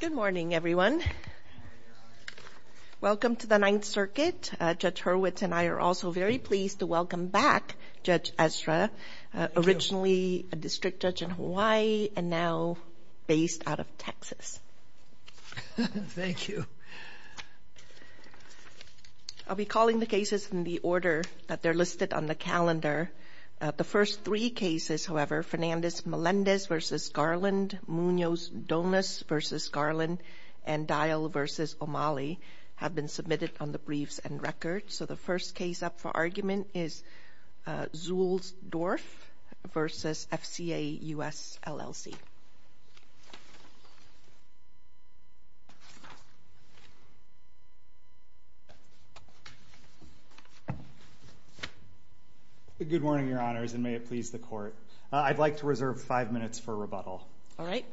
Good morning, everyone. Welcome to the Ninth Circuit. Judge Hurwitz and I are also very pleased to welcome back Judge Ezra, originally a district judge in Hawaii and now based out of Texas. Thank you. I'll be calling the cases in the order that they're listed on the calendar. The first three cases, however, Fernandez-Melendez v. Garland, Munoz-Donas v. Garland, and Dial v. O'Malley have been submitted on the briefs and records. So the first case up for argument is Zuehlsdorf v. FCA US LLC. Good morning, Your Honors, and may it please the Court. I'd like to reserve five minutes for rebuttal. All right.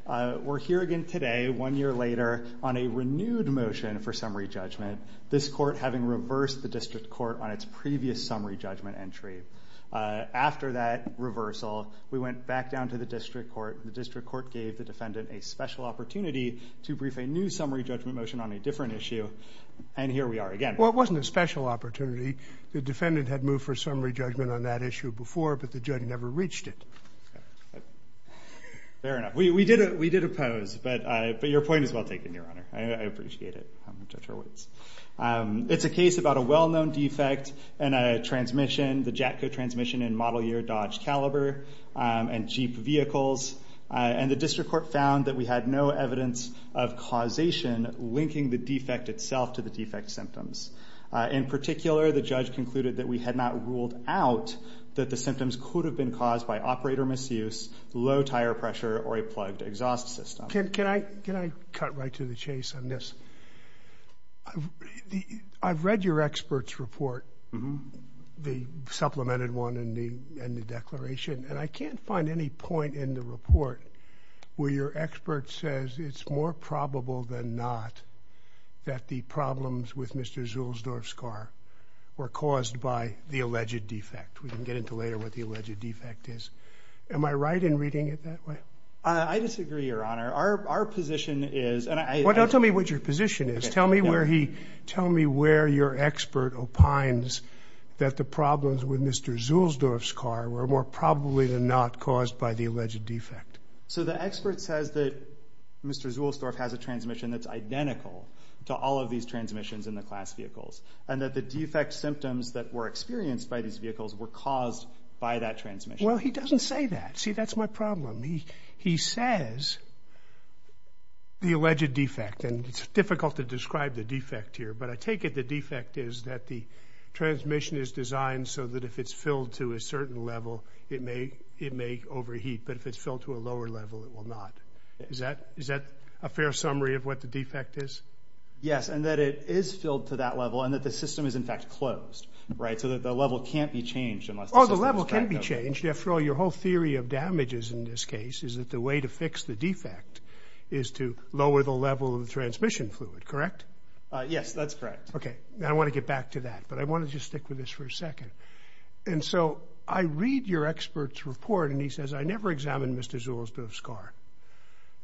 We're here again today, one year later, on a renewed motion for summary judgment. This Court, having reversed the district court on its previous summary judgment entry, after that reversal, we went back down to the district court. The district court gave the defendant a special opportunity to brief a new summary judgment motion on a different issue, and here we are again. Well, it wasn't a special opportunity. The defendant had moved for summary judgment on that issue before, but the judge never reached it. Fair enough. We did oppose, but your point is well taken, Your Honor. I appreciate it. I'm Judge Hurwitz. It's a case about a well-known defect in a transmission, the JATCO transmission in model year Dodge Caliber and Jeep vehicles, and the district court found that we had no evidence of causation linking the defect itself to the defect symptoms. In particular, the judge concluded that we had not ruled out that the symptoms could have been caused by operator misuse, low tire pressure, or a plugged exhaust system. Can I cut right to the chase on this? I've read your expert's report, the supplemented one in the declaration, and I can't find any point in the report where your expert says it's more probable than not that the problems with Mr. Zulsdorf's car were caused by the alleged defect. We can get into later what the alleged defect is. Am I right in reading it that way? I disagree, Your Honor. Our position is... Well, don't tell me what your position is. Tell me where your expert opines that the problems with Mr. Zulsdorf's car were more probably than not caused by the alleged defect. So the expert says that Mr. Zulsdorf has a transmission that's identical to all of these transmissions in the class vehicles, and that the defect symptoms that were experienced by these vehicles were caused by that transmission. Well, he doesn't say that. See, that's my problem. He says the alleged defect, and it's difficult to describe the defect here, but I take it the defect is that the transmission is designed so that if it's filled to a certain level, it may overheat, but if it's filled to a lower level, it will not. Is that a fair summary of what the defect is? Yes, and that it is filled to that level, and that the system is, in fact, closed, right? So that the level can't be changed unless the system is cracked open. It can't be changed. After all, your whole theory of damages in this case is that the way to fix the defect is to lower the level of the transmission fluid, correct? Yes, that's correct. Okay, now I want to get back to that, but I want to just stick with this for a second. And so I read your expert's report, and he says, I never examined Mr. Zulsdorf's car.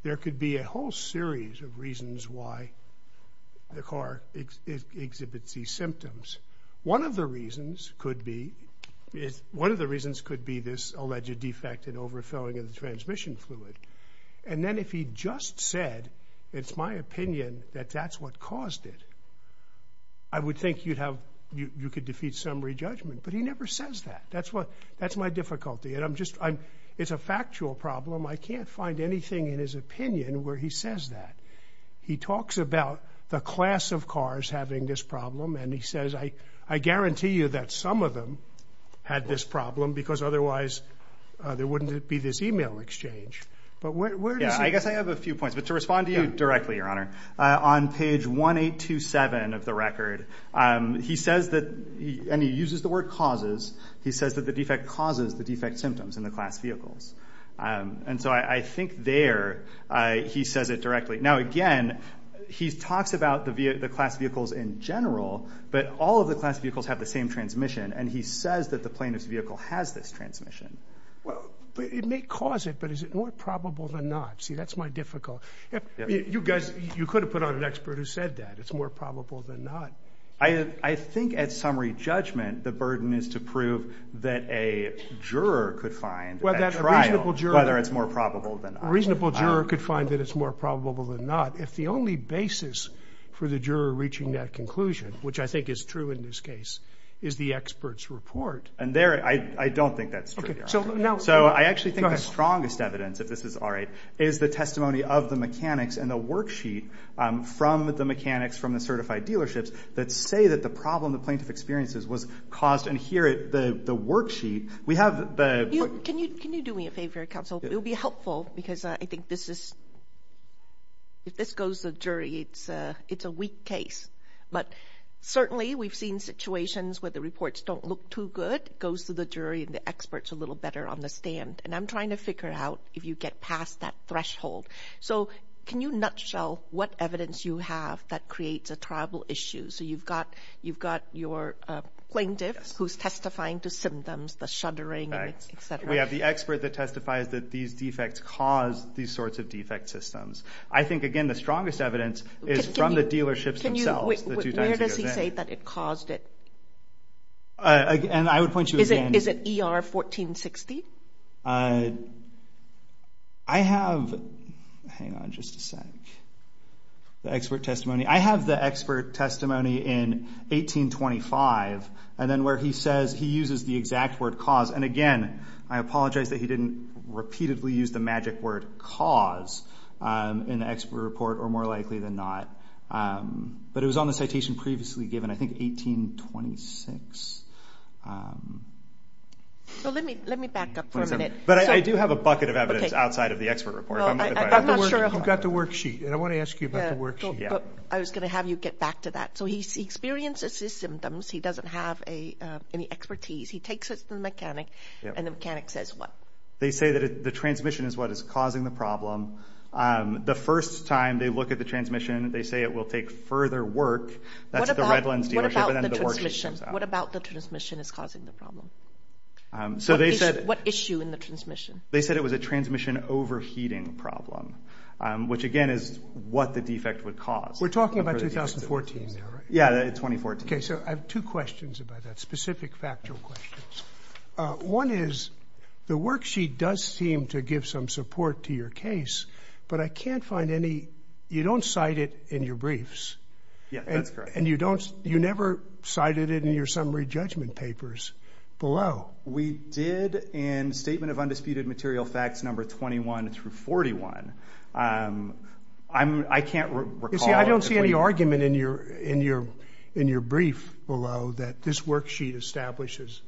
There could be a whole series of reasons why the car exhibits these symptoms. One of the reasons could be this alleged defect in overfilling of the transmission fluid, and then if he just said, it's my opinion that that's what caused it, I would think you could defeat summary judgment, but he never says that. That's my difficulty, and I'm just, it's a factual problem. I can't find anything in his opinion where he says that. He talks about the class of cars having this problem, and he says, I guarantee you that some of them had this problem, because otherwise there wouldn't be this email exchange. But where does he... He says that the defect causes the defect symptoms in the class vehicles. And so I think there, he says it directly. Now again, he talks about the class vehicles in general, but all of the class vehicles have the same transmission, and he says that the plaintiff's vehicle has this transmission. Well, it may cause it, but is it more probable than not? See, that's my difficulty. You guys, you could have put on an expert who said that. It's more probable than not. I think at summary judgment, the burden is to prove that a juror could find at trial whether it's more probable than not. A reasonable juror could find that it's more probable than not if the only basis for the juror reaching that conclusion, which I think is true in this case, is the expert's report. And there, I don't think that's true. So I actually think the strongest evidence, if this is all right, is the testimony of the mechanics and the worksheet from the mechanics from the certified dealerships that say that the problem the plaintiff experiences was caused. And here, the worksheet, we have the... Can you do me a favor, counsel? It would be helpful because I think this is... If this goes to the jury, it's a weak case. But certainly, we've seen situations where the reports don't look too good. It goes to the jury and the expert's a little better on the stand. And I'm trying to figure out if you get past that threshold. So can you nutshell what evidence you have that creates a tribal issue? So you've got your plaintiff who's testifying to symptoms, the shuddering, etc. We have the expert that testifies that these defects cause these sorts of defect systems. I think, again, the strongest evidence is from the dealerships themselves. Where does he say that it caused it? And I would point you again... Is it ER 1460? I have... Hang on just a sec. The expert testimony. I have the expert testimony in 1825, and then where he says he uses the exact word cause. And again, I apologize that he didn't repeatedly use the magic word cause in the expert report, or more likely than not. But it was on the citation previously given, I think 1826. So let me back up for a minute. But I do have a bucket of evidence outside of the expert report. You've got the worksheet, and I want to ask you about the worksheet. I was going to have you get back to that. So he experiences his symptoms. He doesn't have any expertise. He takes it to the mechanic, and the mechanic says what? They say that the transmission is what is causing the problem. The first time they look at the transmission, they say it will take further work. What about the transmission? What about the transmission is causing the problem? So they said... What issue in the transmission? They said it was a transmission overheating problem, which again is what the defect would cause. We're talking about 2014 there, right? Yeah, 2014. Okay, so I have two questions about that, specific factual questions. One is the worksheet does seem to give some support to your case, but I can't find any... You don't cite it in your briefs. Yeah, that's correct. And you never cited it in your summary judgment papers below. We did in Statement of Undisputed Material Facts number 21 through 41. I can't recall... You see, I don't see any argument in your brief below that this worksheet establishes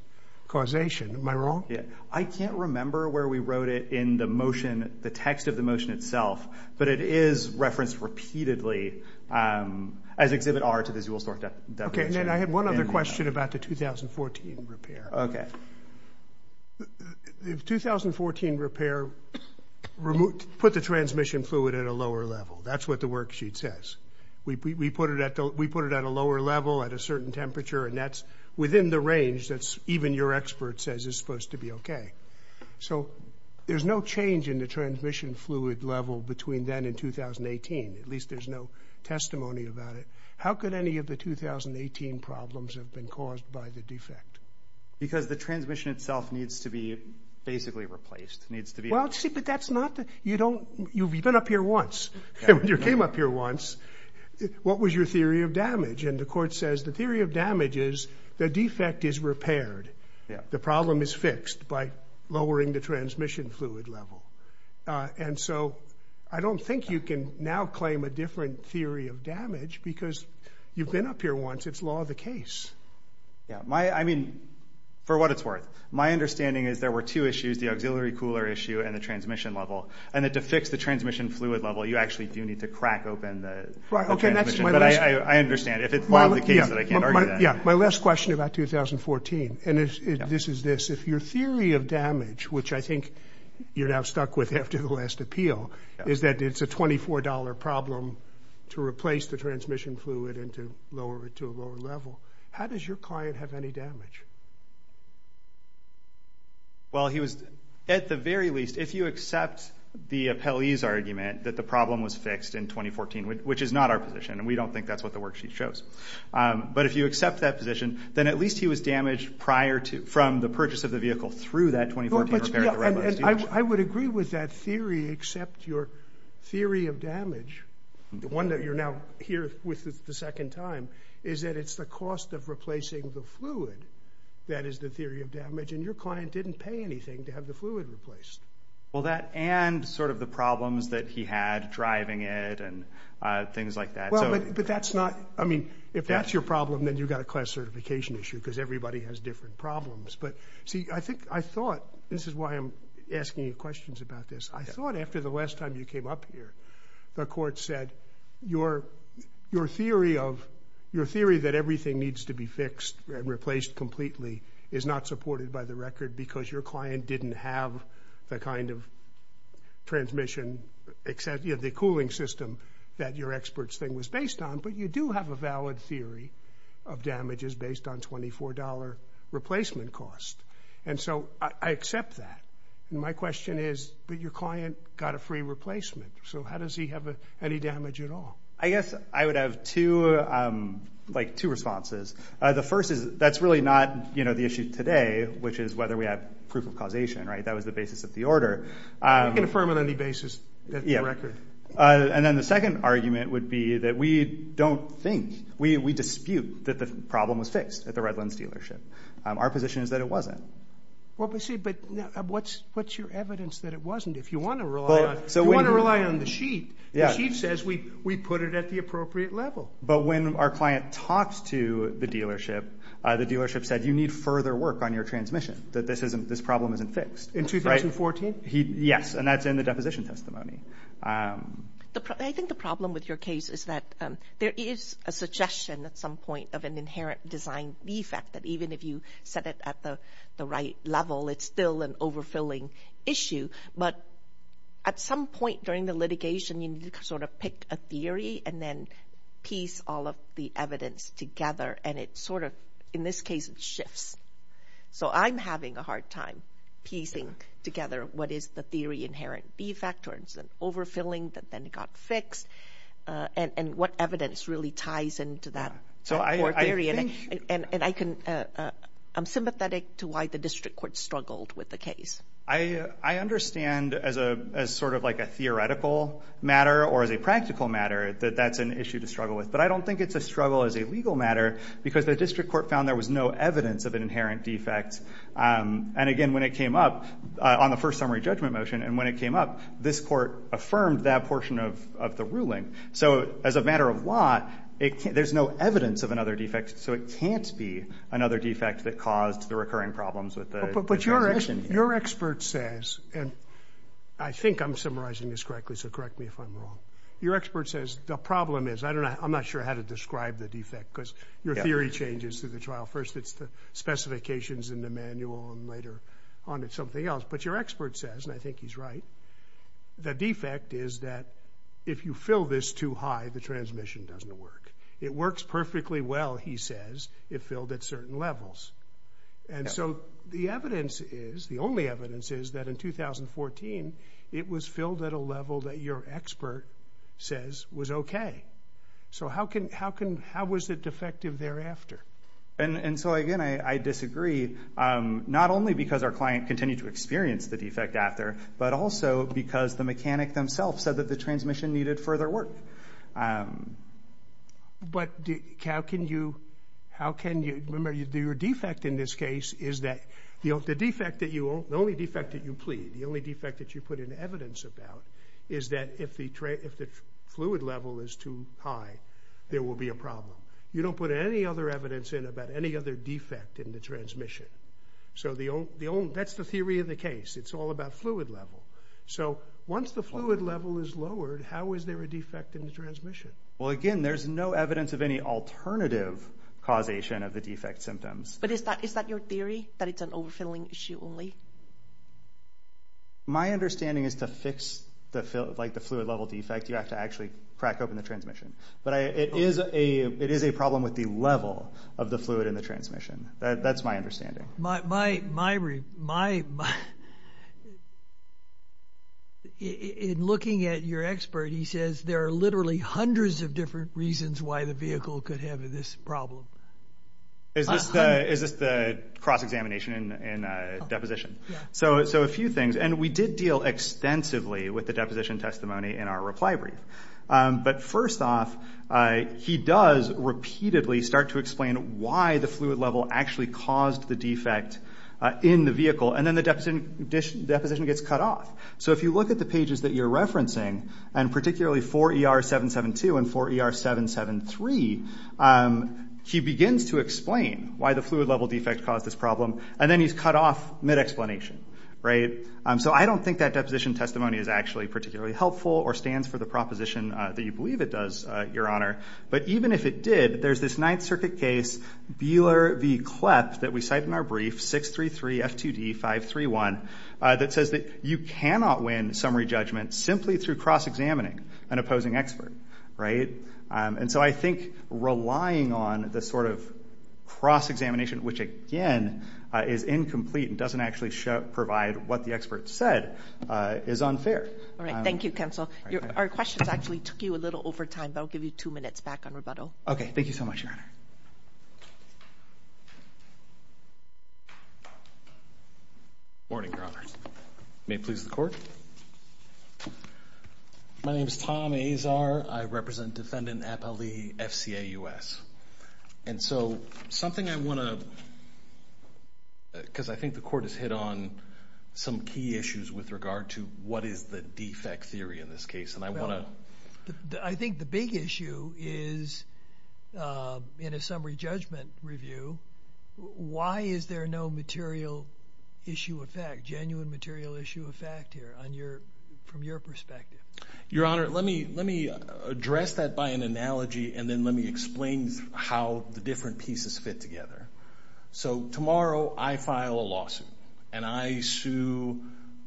causation. Am I wrong? I can't remember where we wrote it in the motion, the text of the motion itself, but it is referenced repeatedly as Exhibit R to the Zuhlstorf... Okay, and then I had one other question about the 2014 repair. Okay. The 2014 repair put the transmission fluid at a lower level. That's what the worksheet says. We put it at a lower level at a certain temperature, and that's within the range that even your expert says is supposed to be okay. So there's no change in the transmission fluid level between then and 2018. At least there's no testimony about it. How could any of the 2018 problems have been caused by the defect? Because the transmission itself needs to be basically replaced. Well, see, but that's not... You've been up here once. You came up here once. What was your theory of damage? And the court says the theory of damage is the defect is repaired. The problem is fixed by lowering the transmission fluid level. And so I don't think you can now claim a different theory of damage because you've been up here once. It's law of the case. Yeah, I mean, for what it's worth. My understanding is there were two issues, the auxiliary cooler issue and the transmission level, and that to fix the transmission fluid level, you actually do need to crack open the transmission. But I understand. If it's law of the case, then I can't argue that. Yeah, my last question about 2014, and this is this. If your theory of damage, which I think you're now stuck with after the last appeal, is that it's a $24 problem to replace the transmission fluid and to lower it to a lower level, how does your client have any damage? Well, at the very least, if you accept the appellee's argument that the problem was fixed in 2014, which is not our position, and we don't think that's what the worksheet shows, but if you accept that position, then at least he was damaged from the purchase of the vehicle through that 2014 repair. I would agree with that theory, except your theory of damage, the one that you're now here with the second time, is that it's the cost of replacing the fluid that is the theory of damage, and your client didn't pay anything to have the fluid replaced. Well, that and sort of the problems that he had driving it and things like that. Well, but that's not, I mean, if that's your problem, then you've got a class certification issue because everybody has different problems. But, see, I think I thought, this is why I'm asking you questions about this, I thought after the last time you came up here, the court said your theory that everything needs to be fixed and replaced completely is not supported by the record because your client didn't have the kind of transmission, the cooling system that your expert's thing was based on, but you do have a valid theory of damages based on $24 replacement cost. And so I accept that. And my question is, but your client got a free replacement, so how does he have any damage at all? I guess I would have two, like, two responses. The first is that's really not, you know, the issue today, which is whether we have proof of causation, right? That was the basis of the order. I can affirm on any basis that the record. And then the second argument would be that we don't think, we dispute that the problem was fixed at the Redlands dealership. Our position is that it wasn't. Well, but see, but what's your evidence that it wasn't? If you want to rely on the sheet, the sheet says we put it at the appropriate level. But when our client talks to the dealership, the dealership said, you need further work on your transmission, that this problem isn't fixed. In 2014? Yes, and that's in the deposition testimony. I think the problem with your case is that there is a suggestion at some point of an inherent design defect that even if you set it at the right level, it's still an overfilling issue. But at some point during the litigation, you need to sort of pick a theory and then piece all of the evidence together, and it sort of, in this case, it shifts. So I'm having a hard time piecing together what is the theory inherent defect, or is it overfilling that then got fixed, and what evidence really ties into that core theory. And I'm sympathetic to why the district court struggled with the case. I understand as sort of like a theoretical matter or as a practical matter that that's an issue to struggle with. But I don't think it's a struggle as a legal matter, because the district court found there was no evidence of an inherent defect. And again, when it came up on the first summary judgment motion, and when it came up, this court affirmed that portion of the ruling. So as a matter of law, there's no evidence of another defect, so it can't be another defect that caused the recurring problems with the transition. But your expert says, and I think I'm summarizing this correctly, so correct me if I'm wrong. Your expert says the problem is, I don't know, I'm not sure how to describe the defect, because your theory changes through the trial. First it's the specifications in the manual, and later on it's something else. But your expert says, and I think he's right, the defect is that if you fill this too high, the transmission doesn't work. It works perfectly well, he says, if filled at certain levels. And so the evidence is, the only evidence is that in 2014, it was filled at a level that your expert says was okay. So how was it defective thereafter? And so, again, I disagree. Not only because our client continued to experience the defect after, but also because the mechanic themselves said that the transmission needed further work. But how can you, remember, your defect in this case is that the only defect that you plead, the only defect that you put in evidence about, is that if the fluid level is too high, there will be a problem. You don't put any other evidence in about any other defect in the transmission. So that's the theory of the case. It's all about fluid level. So once the fluid level is lowered, how is there a defect in the transmission? Well, again, there's no evidence of any alternative causation of the defect symptoms. But is that your theory, that it's an overfilling issue only? My understanding is to fix, like, the fluid level defect, you have to actually crack open the transmission. But it is a problem with the level of the fluid in the transmission. That's my understanding. In looking at your expert, he says there are literally hundreds of different reasons why the vehicle could have this problem. Is this the cross-examination and deposition? Yeah. So a few things. And we did deal extensively with the deposition testimony in our reply brief. But first off, he does repeatedly start to explain why the fluid level actually caused the defect in the vehicle. And then the deposition gets cut off. So if you look at the pages that you're referencing, and particularly 4ER772 and 4ER773, he begins to explain why the fluid level defect caused this problem, and then he's cut off mid-explanation. So I don't think that deposition testimony is actually particularly helpful or stands for the proposition that you believe it does, Your Honor. But even if it did, there's this Ninth Circuit case, Beeler v. Klepp, that we cite in our brief, 633 F2D 531, that says that you cannot win summary judgment simply through cross-examining an opposing expert, right? And so I think relying on this sort of cross-examination, which again is incomplete and doesn't actually provide what the expert said, is unfair. All right, thank you, Counsel. Our questions actually took you a little over time, but I'll give you two minutes back on rebuttal. Okay, thank you so much, Your Honor. Morning, Your Honor. May it please the Court? My name is Tom Azar. I represent Defendant Appali FCA US. And so something I want to, because I think the Court has hit on some key issues with regard to what is the defect theory in this case, and I want to. I think the big issue is in a summary judgment review, why is there no material issue of fact, genuine material issue of fact here, from your perspective? Your Honor, let me address that by an analogy and then let me explain how the different pieces fit together. So tomorrow I file a lawsuit and I sue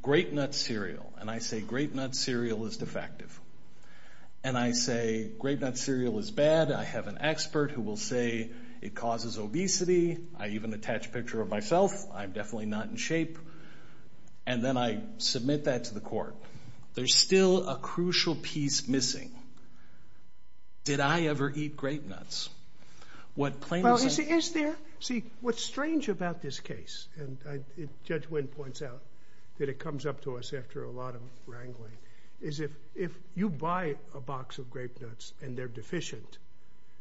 Grape-Nuts Cereal, and I say Grape-Nuts Cereal is defective. And I say Grape-Nuts Cereal is bad. I have an expert who will say it causes obesity. I even attach a picture of myself. I'm definitely not in shape. And then I submit that to the Court. There's still a crucial piece missing. Did I ever eat Grape-Nuts? Well, is there? See, what's strange about this case, and Judge Wynn points out that it comes up to us after a lot of wrangling, is if you buy a box of Grape-Nuts and they're deficient,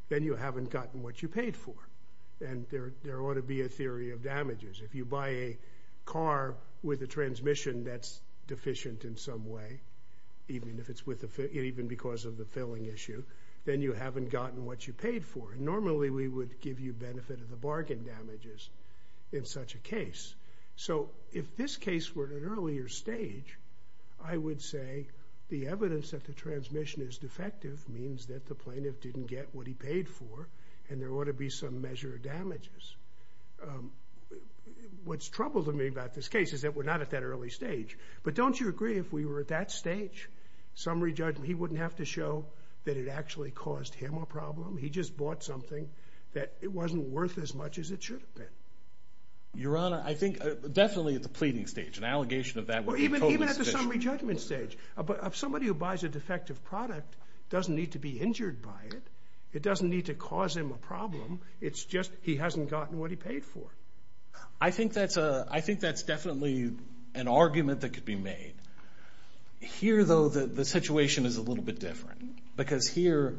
then you haven't gotten what you paid for. And there ought to be a theory of damages. If you buy a car with a transmission that's deficient in some way, even because of the filling issue, then you haven't gotten what you paid for. Normally we would give you benefit of the bargain damages in such a case. So if this case were at an earlier stage, I would say the evidence that the transmission is defective means that the plaintiff didn't get what he paid for and there ought to be some measure of damages. What's troubled me about this case is that we're not at that early stage. But don't you agree if we were at that stage, summary judgment, he wouldn't have to show that it actually caused him a problem? He just bought something that it wasn't worth as much as it should have been. Your Honor, I think definitely at the pleading stage. An allegation of that would be totally sufficient. Even at the summary judgment stage. Somebody who buys a defective product doesn't need to be injured by it. It doesn't need to cause him a problem. It's just he hasn't gotten what he paid for. I think that's definitely an argument that could be made. Here, though, the situation is a little bit different. Because here,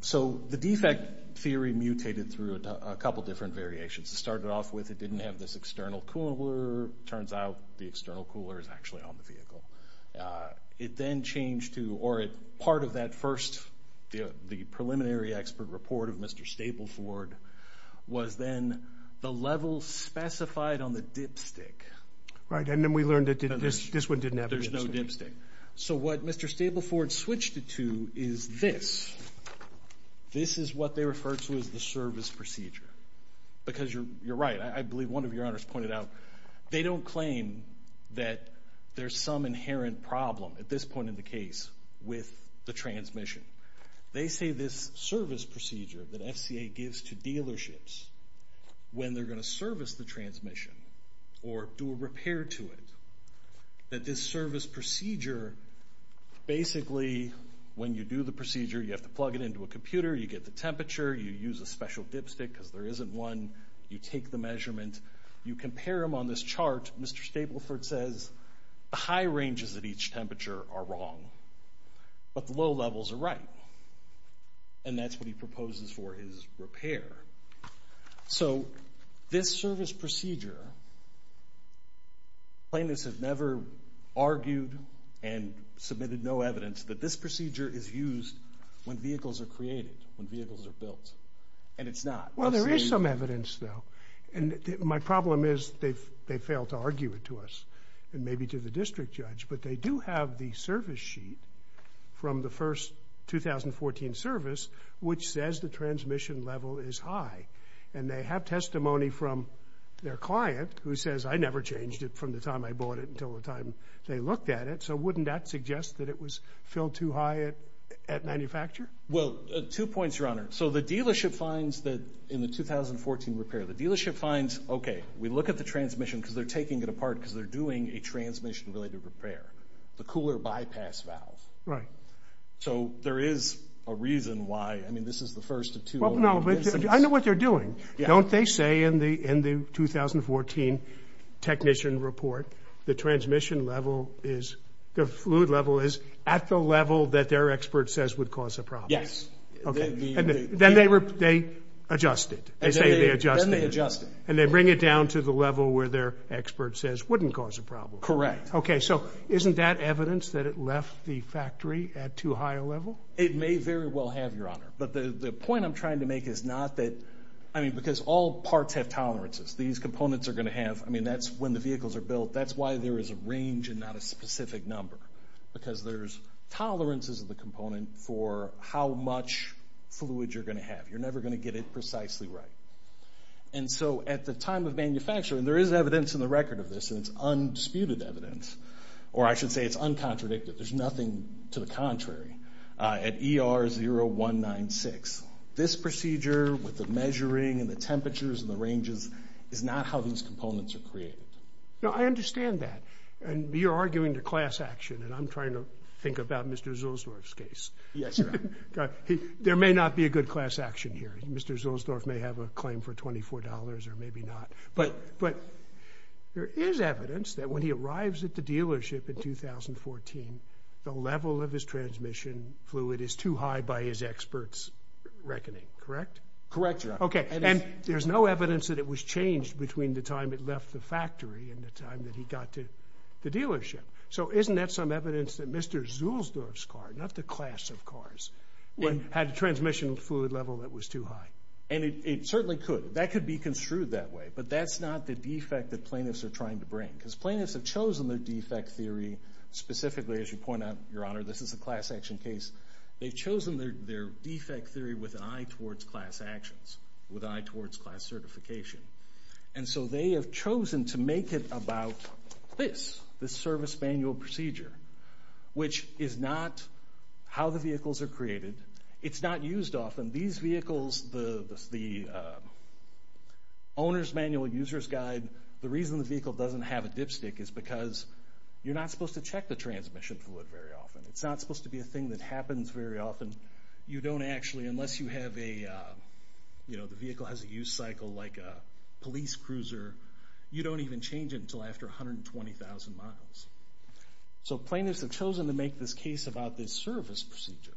so the defect theory mutated through a couple different variations. It started off with it didn't have this external cooler. Turns out the external cooler is actually on the vehicle. It then changed to, or part of that first, the preliminary expert report of Mr. Stapleford was then the level specified on the dipstick. Right, and then we learned that this one didn't have a dipstick. There's no dipstick. So what Mr. Stapleford switched it to is this. This is what they refer to as the service procedure. Because you're right, I believe one of your honors pointed out they don't claim that there's some inherent problem, at this point in the case, with the transmission. They say this service procedure that FCA gives to dealerships when they're going to service the transmission or do a repair to it, that this service procedure basically, when you do the procedure, you have to plug it into a computer, you get the temperature, you use a special dipstick because there isn't one, you take the measurement, you compare them on this chart. Mr. Stapleford says the high ranges at each temperature are wrong, but the low levels are right. And that's what he proposes for his repair. So this service procedure, plaintiffs have never argued and submitted no evidence that this procedure is used when vehicles are created, when vehicles are built, and it's not. Well, there is some evidence, though. My problem is they've failed to argue it to us and maybe to the district judge, but they do have the service sheet from the first 2014 service which says the transmission level is high. And they have testimony from their client who says, I never changed it from the time I bought it until the time they looked at it. So wouldn't that suggest that it was filled too high at manufacture? Well, two points, Your Honor. So the dealership finds that in the 2014 repair, the dealership finds, okay, we look at the transmission because they're taking it apart because they're doing a transmission-related repair, the cooler bypass valve. Right. So there is a reason why, I mean, this is the first of two instances. I know what they're doing. Don't they say in the 2014 technician report the transmission level is, the fluid level is at the level that their expert says would cause a problem? Yes. Okay. Then they adjust it. They say they adjust it. Then they adjust it. And they bring it down to the level where their expert says, wouldn't cause a problem. Okay. So isn't that evidence that it left the factory at too high a level? It may very well have, Your Honor. But the point I'm trying to make is not that, I mean, because all parts have tolerances. These components are going to have, I mean, that's when the vehicles are built. That's why there is a range and not a specific number because there's tolerances of the component for how much fluid you're going to have. You're never going to get it precisely right. And so at the time of manufacturing, there is evidence in the record of this, and it's undisputed evidence, or I should say it's uncontradicted. There's nothing to the contrary. At ER 0196, this procedure with the measuring and the temperatures and the ranges is not how these components are created. No, I understand that. And you're arguing the class action, and I'm trying to think about Mr. Zulsdorf's case. Yes, Your Honor. There may not be a good class action here. Mr. Zulsdorf may have a claim for $24 or maybe not. But there is evidence that when he arrives at the dealership in 2014, the level of his transmission fluid is too high by his expert's reckoning. Correct, Your Honor. Okay, and there's no evidence that it was changed between the time it left the factory and the time that he got to the dealership. So isn't that some evidence that Mr. Zulsdorf's car, not the class of cars, had a transmission fluid level that was too high? And it certainly could. That could be construed that way. But that's not the defect that plaintiffs are trying to bring. Because plaintiffs have chosen their defect theory specifically, as you point out, Your Honor, this is a class action case. They've chosen their defect theory with an eye towards class actions, with an eye towards class certification. And so they have chosen to make it about this, this service manual procedure, which is not how the vehicles are created. It's not used often. These vehicles, the owner's manual, user's guide, the reason the vehicle doesn't have a dipstick is because you're not supposed to check the transmission fluid very often. It's not supposed to be a thing that happens very often. You don't actually, unless you have a, you know, the vehicle has a use cycle like a police cruiser, you don't even change it until after 120,000 miles. So plaintiffs have chosen to make this case about this service procedure,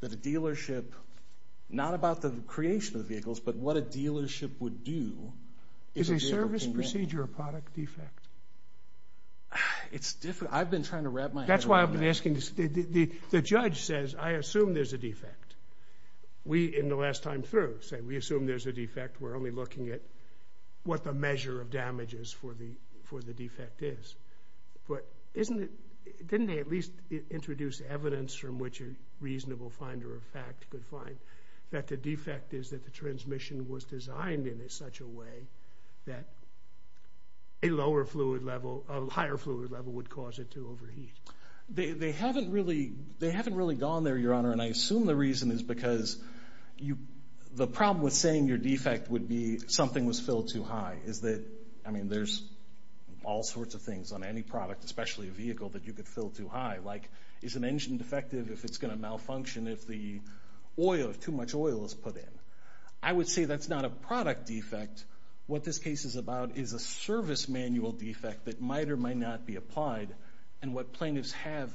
that a dealership, not about the creation of vehicles, but what a dealership would do if a vehicle came in. Is a service procedure a product defect? It's different. I've been trying to wrap my head around that. That's why I've been asking this. The judge says, I assume there's a defect. We, in the last time through, say we assume there's a defect. We're only looking at what the measure of damage is for the defect is. But isn't it, didn't they at least introduce evidence from which a reasonable finder of fact could find that the defect is that the transmission was designed in such a way that a lower fluid level, a higher fluid level would cause it to overheat? They haven't really, they haven't really gone there, Your Honor, and I assume the reason is because you, the problem with saying your defect would be something was filled too high. Is that, I mean, there's all sorts of things on any product, especially a vehicle, that you could fill too high. Like is an engine defective if it's going to malfunction if the oil, if too much oil is put in? I would say that's not a product defect. What this case is about is a service manual defect that might or might not be applied, and what plaintiffs have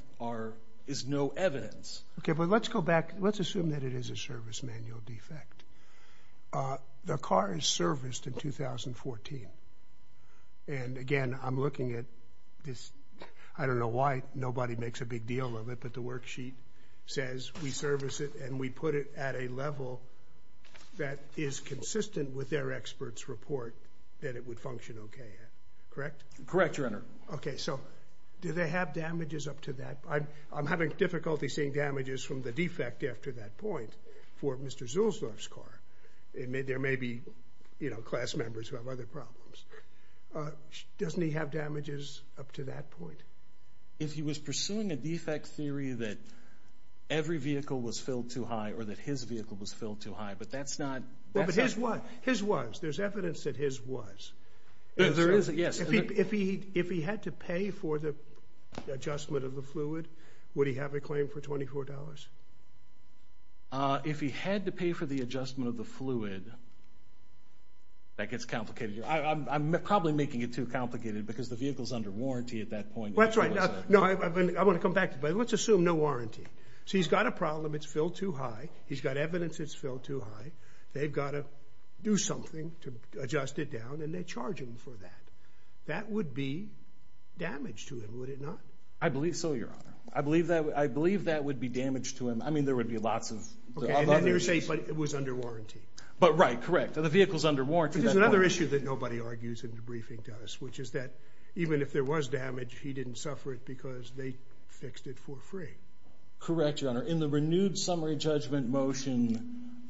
is no evidence. Okay, but let's go back. Let's assume that it is a service manual defect. The car is serviced in 2014, and again, I'm looking at this. I don't know why nobody makes a big deal of it, but the worksheet says we service it and we put it at a level that is consistent with their expert's report that it would function okay. Correct? Correct, Your Honor. Okay, so do they have damages up to that? I'm having difficulty seeing damages from the defect after that point for Mr. Zulsdorf's car. There may be, you know, class members who have other problems. Doesn't he have damages up to that point? If he was pursuing a defect theory that every vehicle was filled too high or that his vehicle was filled too high, but that's not— But his was. There's evidence that his was. There is, yes. If he had to pay for the adjustment of the fluid, would he have a claim for $24? If he had to pay for the adjustment of the fluid, that gets complicated. I'm probably making it too complicated because the vehicle is under warranty at that point. Well, that's right. No, I want to come back to that, but let's assume no warranty. So he's got a problem, it's filled too high. He's got evidence it's filled too high. They've got to do something to adjust it down, and they charge him for that. That would be damage to him, would it not? I believe so, Your Honor. I believe that would be damage to him. I mean, there would be lots of other issues. Okay, and then you're saying it was under warranty. Right, correct. The vehicle's under warranty at that point. There's another issue that nobody argues in the briefing, Dennis, which is that even if there was damage, he didn't suffer it because they fixed it for free. Correct, Your Honor. In the renewed summary judgment motion,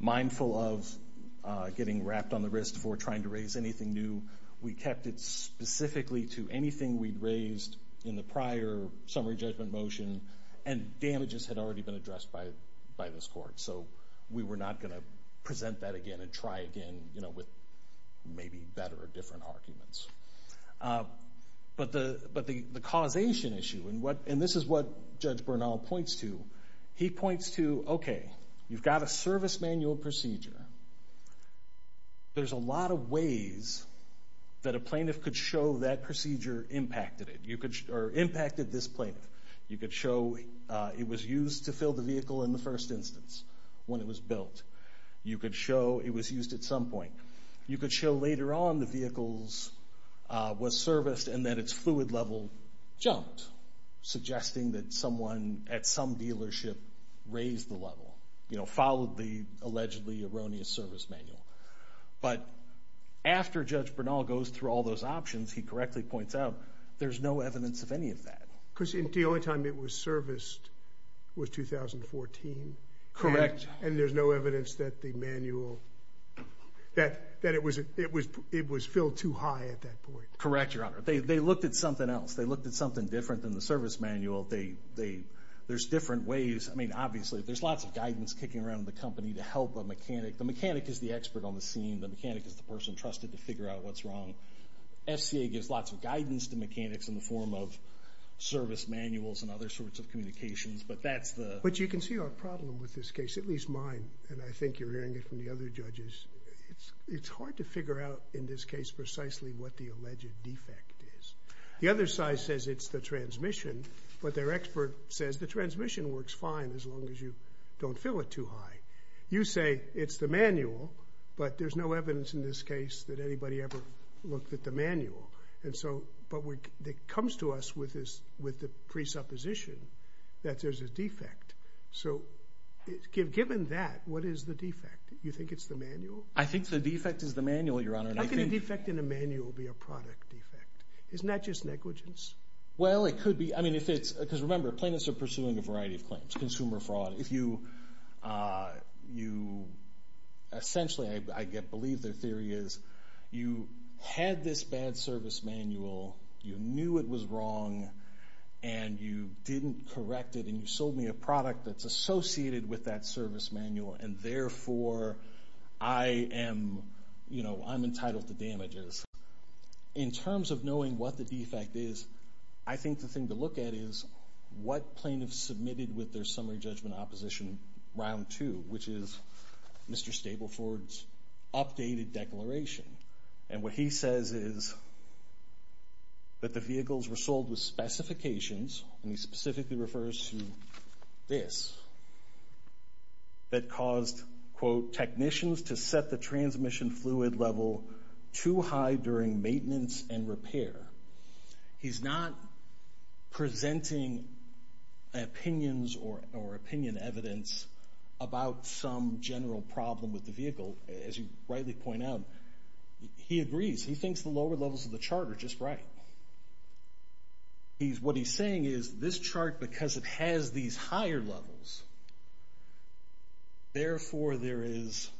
mindful of getting wrapped on the wrist for trying to raise anything new, we kept it specifically to anything we'd raised in the prior summary judgment motion, and damages had already been addressed by this court. So we were not going to present that again and try again with maybe better or different arguments. But the causation issue, and this is what Judge Bernal points to, he points to, okay, you've got a service manual procedure. There's a lot of ways that a plaintiff could show that procedure impacted it or impacted this plaintiff. You could show it was used to fill the vehicle in the first instance when it was built. You could show it was used at some point. You could show later on the vehicle was serviced and that its fluid level jumped, suggesting that someone at some dealership raised the level, followed the allegedly erroneous service manual. But after Judge Bernal goes through all those options, he correctly points out, there's no evidence of any of that. Because the only time it was serviced was 2014. Correct. And there's no evidence that the manual, that it was filled too high at that point. Correct, Your Honor. They looked at something else. They looked at something different than the service manual. There's different ways. I mean, obviously, there's lots of guidance kicking around the company to help a mechanic. The mechanic is the expert on the scene. The mechanic is the person trusted to figure out what's wrong. FCA gives lots of guidance to mechanics in the form of service manuals and other sorts of communications. But you can see our problem with this case, at least mine, and I think you're hearing it from the other judges. It's hard to figure out in this case precisely what the alleged defect is. The other side says it's the transmission, but their expert says the transmission works fine as long as you don't fill it too high. You say it's the manual, but there's no evidence in this case that anybody ever looked at the manual. But it comes to us with the presupposition that there's a defect. So given that, what is the defect? Do you think it's the manual? I think the defect is the manual, Your Honor. How can a defect in a manual be a product defect? Isn't that just negligence? Well, it could be. Because remember, plaintiffs are pursuing a variety of claims, consumer fraud. Essentially, I believe their theory is you had this bad service manual, you knew it was wrong, and you didn't correct it, and you sold me a product that's associated with that service manual, and therefore I'm entitled to damages. In terms of knowing what the defect is, I think the thing to look at is what plaintiffs submitted with their summary judgment opposition round two, which is Mr. Stapleford's updated declaration. And what he says is that the vehicles were sold with specifications, and he specifically refers to this, that caused, quote, technicians to set the transmission fluid level too high during maintenance and repair. He's not presenting opinions or opinion evidence about some general problem with the vehicle, as you rightly point out. He agrees. He thinks the lower levels of the chart are just right. What he's saying is this chart, because it has these higher levels, therefore there is,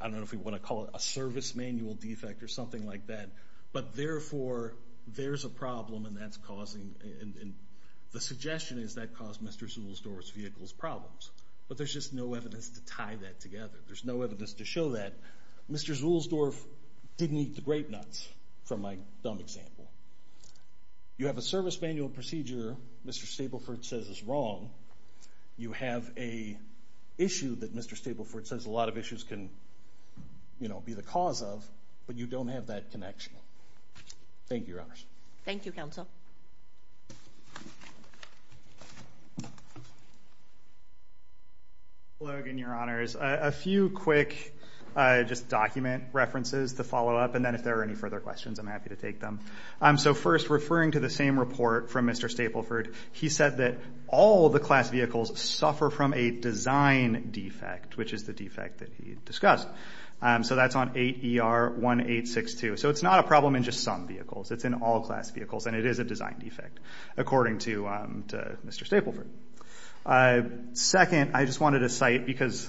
I don't know if we want to call it a service manual defect or something like that, but therefore there's a problem and that's causing, and the suggestion is that caused Mr. Zuhlsdorf's vehicle's problems. But there's just no evidence to tie that together. There's no evidence to show that. Mr. Zuhlsdorf didn't eat the grape nuts, for my dumb example. You have a service manual procedure Mr. Stapleford says is wrong. You have an issue that Mr. Stapleford says a lot of issues can be the cause of, but you don't have that connection. Thank you, Your Honors. Thank you, Counsel. Hello again, Your Honors. A few quick just document references to follow up, and then if there are any further questions, I'm happy to take them. So first, referring to the same report from Mr. Stapleford, he said that all the class vehicles suffer from a design defect, which is the defect that he discussed. So that's on 8ER1862. So it's not a problem in just some vehicles. It's in all class vehicles, and it is a design defect, according to Mr. Stapleford. Second, I just wanted to cite, because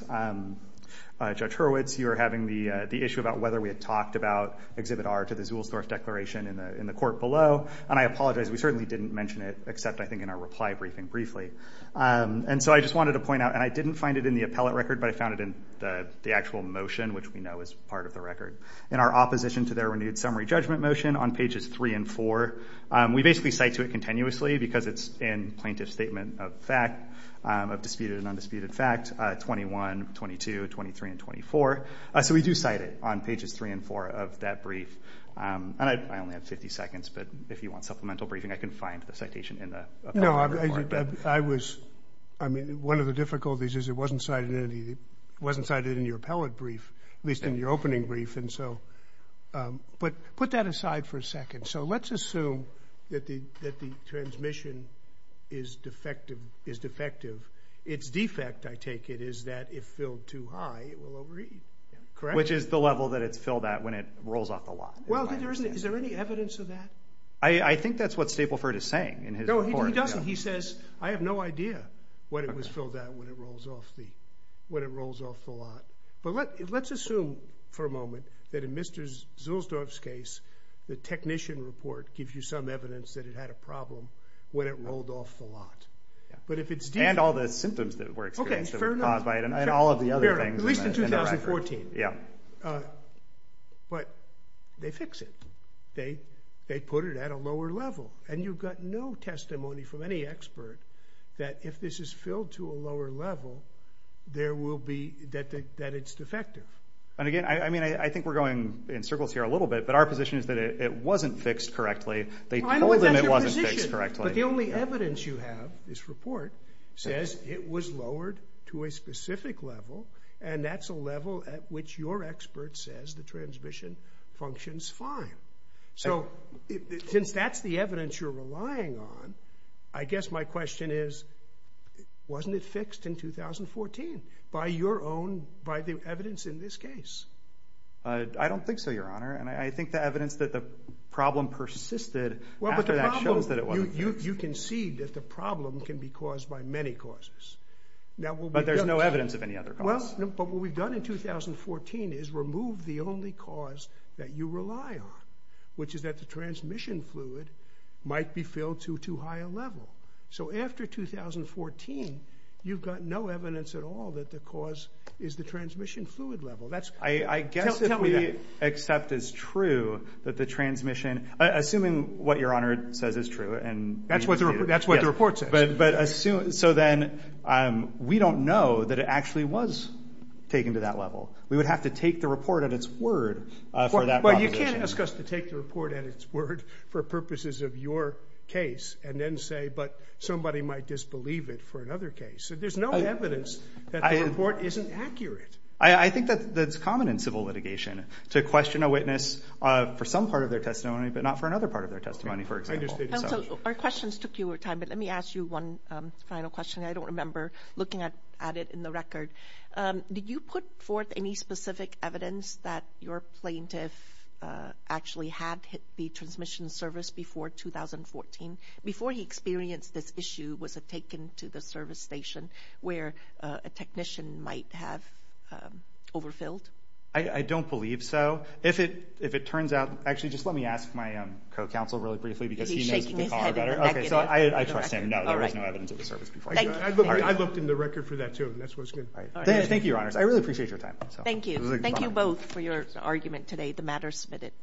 Judge Hurwitz, you were having the issue about whether we had talked about Exhibit R to the Zuhlsdorf Declaration in the court below, and I apologize. We certainly didn't mention it except, I think, in our reply briefing briefly. And so I just wanted to point out, and I didn't find it in the appellate record, but I found it in the actual motion, which we know is part of the record. In our opposition to their renewed summary judgment motion on pages 3 and 4, we basically cite to it continuously because it's in plaintiff's statement of fact, of disputed and undisputed fact, 21, 22, 23, and 24. So we do cite it on pages 3 and 4 of that brief. And I only have 50 seconds, but if you want supplemental briefing, I can find the citation in the appellate report. No, I was – I mean, one of the difficulties is it wasn't cited in your appellate brief, at least in your opening brief, and so – but put that aside for a second. So let's assume that the transmission is defective. Its defect, I take it, is that if filled too high, it will overeat, correct? Which is the level that it's filled at when it rolls off the lot. Well, is there any evidence of that? I think that's what Stapleford is saying in his report. No, he doesn't. He says, I have no idea when it was filled at when it rolls off the lot. But let's assume for a moment that in Mr. Zulsdorf's case, the technician report gives you some evidence that it had a problem when it rolled off the lot. But if it's defective – And all the symptoms that were experienced that were caused by it and all of the other things in the record. Fair enough, at least in 2014. But they fix it. They put it at a lower level. And you've got no testimony from any expert that if this is filled to a lower level, that it's defective. And again, I think we're going in circles here a little bit, but our position is that it wasn't fixed correctly. They told him it wasn't fixed correctly. But the only evidence you have, this report, says it was lowered to a specific level, and that's a level at which your expert says the transmission functions fine. So since that's the evidence you're relying on, I guess my question is, wasn't it fixed in 2014 by your own, by the evidence in this case? I don't think so, Your Honor, and I think the evidence that the problem persisted after that shows that it wasn't fixed. You concede that the problem can be caused by many causes. But there's no evidence of any other causes. But what we've done in 2014 is remove the only cause that you rely on, which is that the transmission fluid might be filled to a higher level. So after 2014, you've got no evidence at all that the cause is the transmission fluid level. Tell me that. I guess if we accept as true that the transmission, assuming what Your Honor says is true. That's what the report says. So then we don't know that it actually was taken to that level. We would have to take the report at its word for that proposition. Well, you can't ask us to take the report at its word for purposes of your case and then say, but somebody might disbelieve it for another case. There's no evidence that the report isn't accurate. I think that's common in civil litigation, to question a witness for some part of their testimony, but not for another part of their testimony, for example. Our questions took your time, but let me ask you one final question. I don't remember looking at it in the record. Did you put forth any specific evidence that your plaintiff actually had the transmission service before 2014? Before he experienced this issue, was it taken to the service station where a technician might have overfilled? I don't believe so. If it turns out, actually just let me ask my co-counsel really briefly. Is he shaking his head in the back? I trust him. No, there was no evidence of the service before. Thank you. I looked in the record for that, too, and that's what's good. Thank you, Your Honors. I really appreciate your time. Thank you. Thank you both for your argument today. The matter is submitted.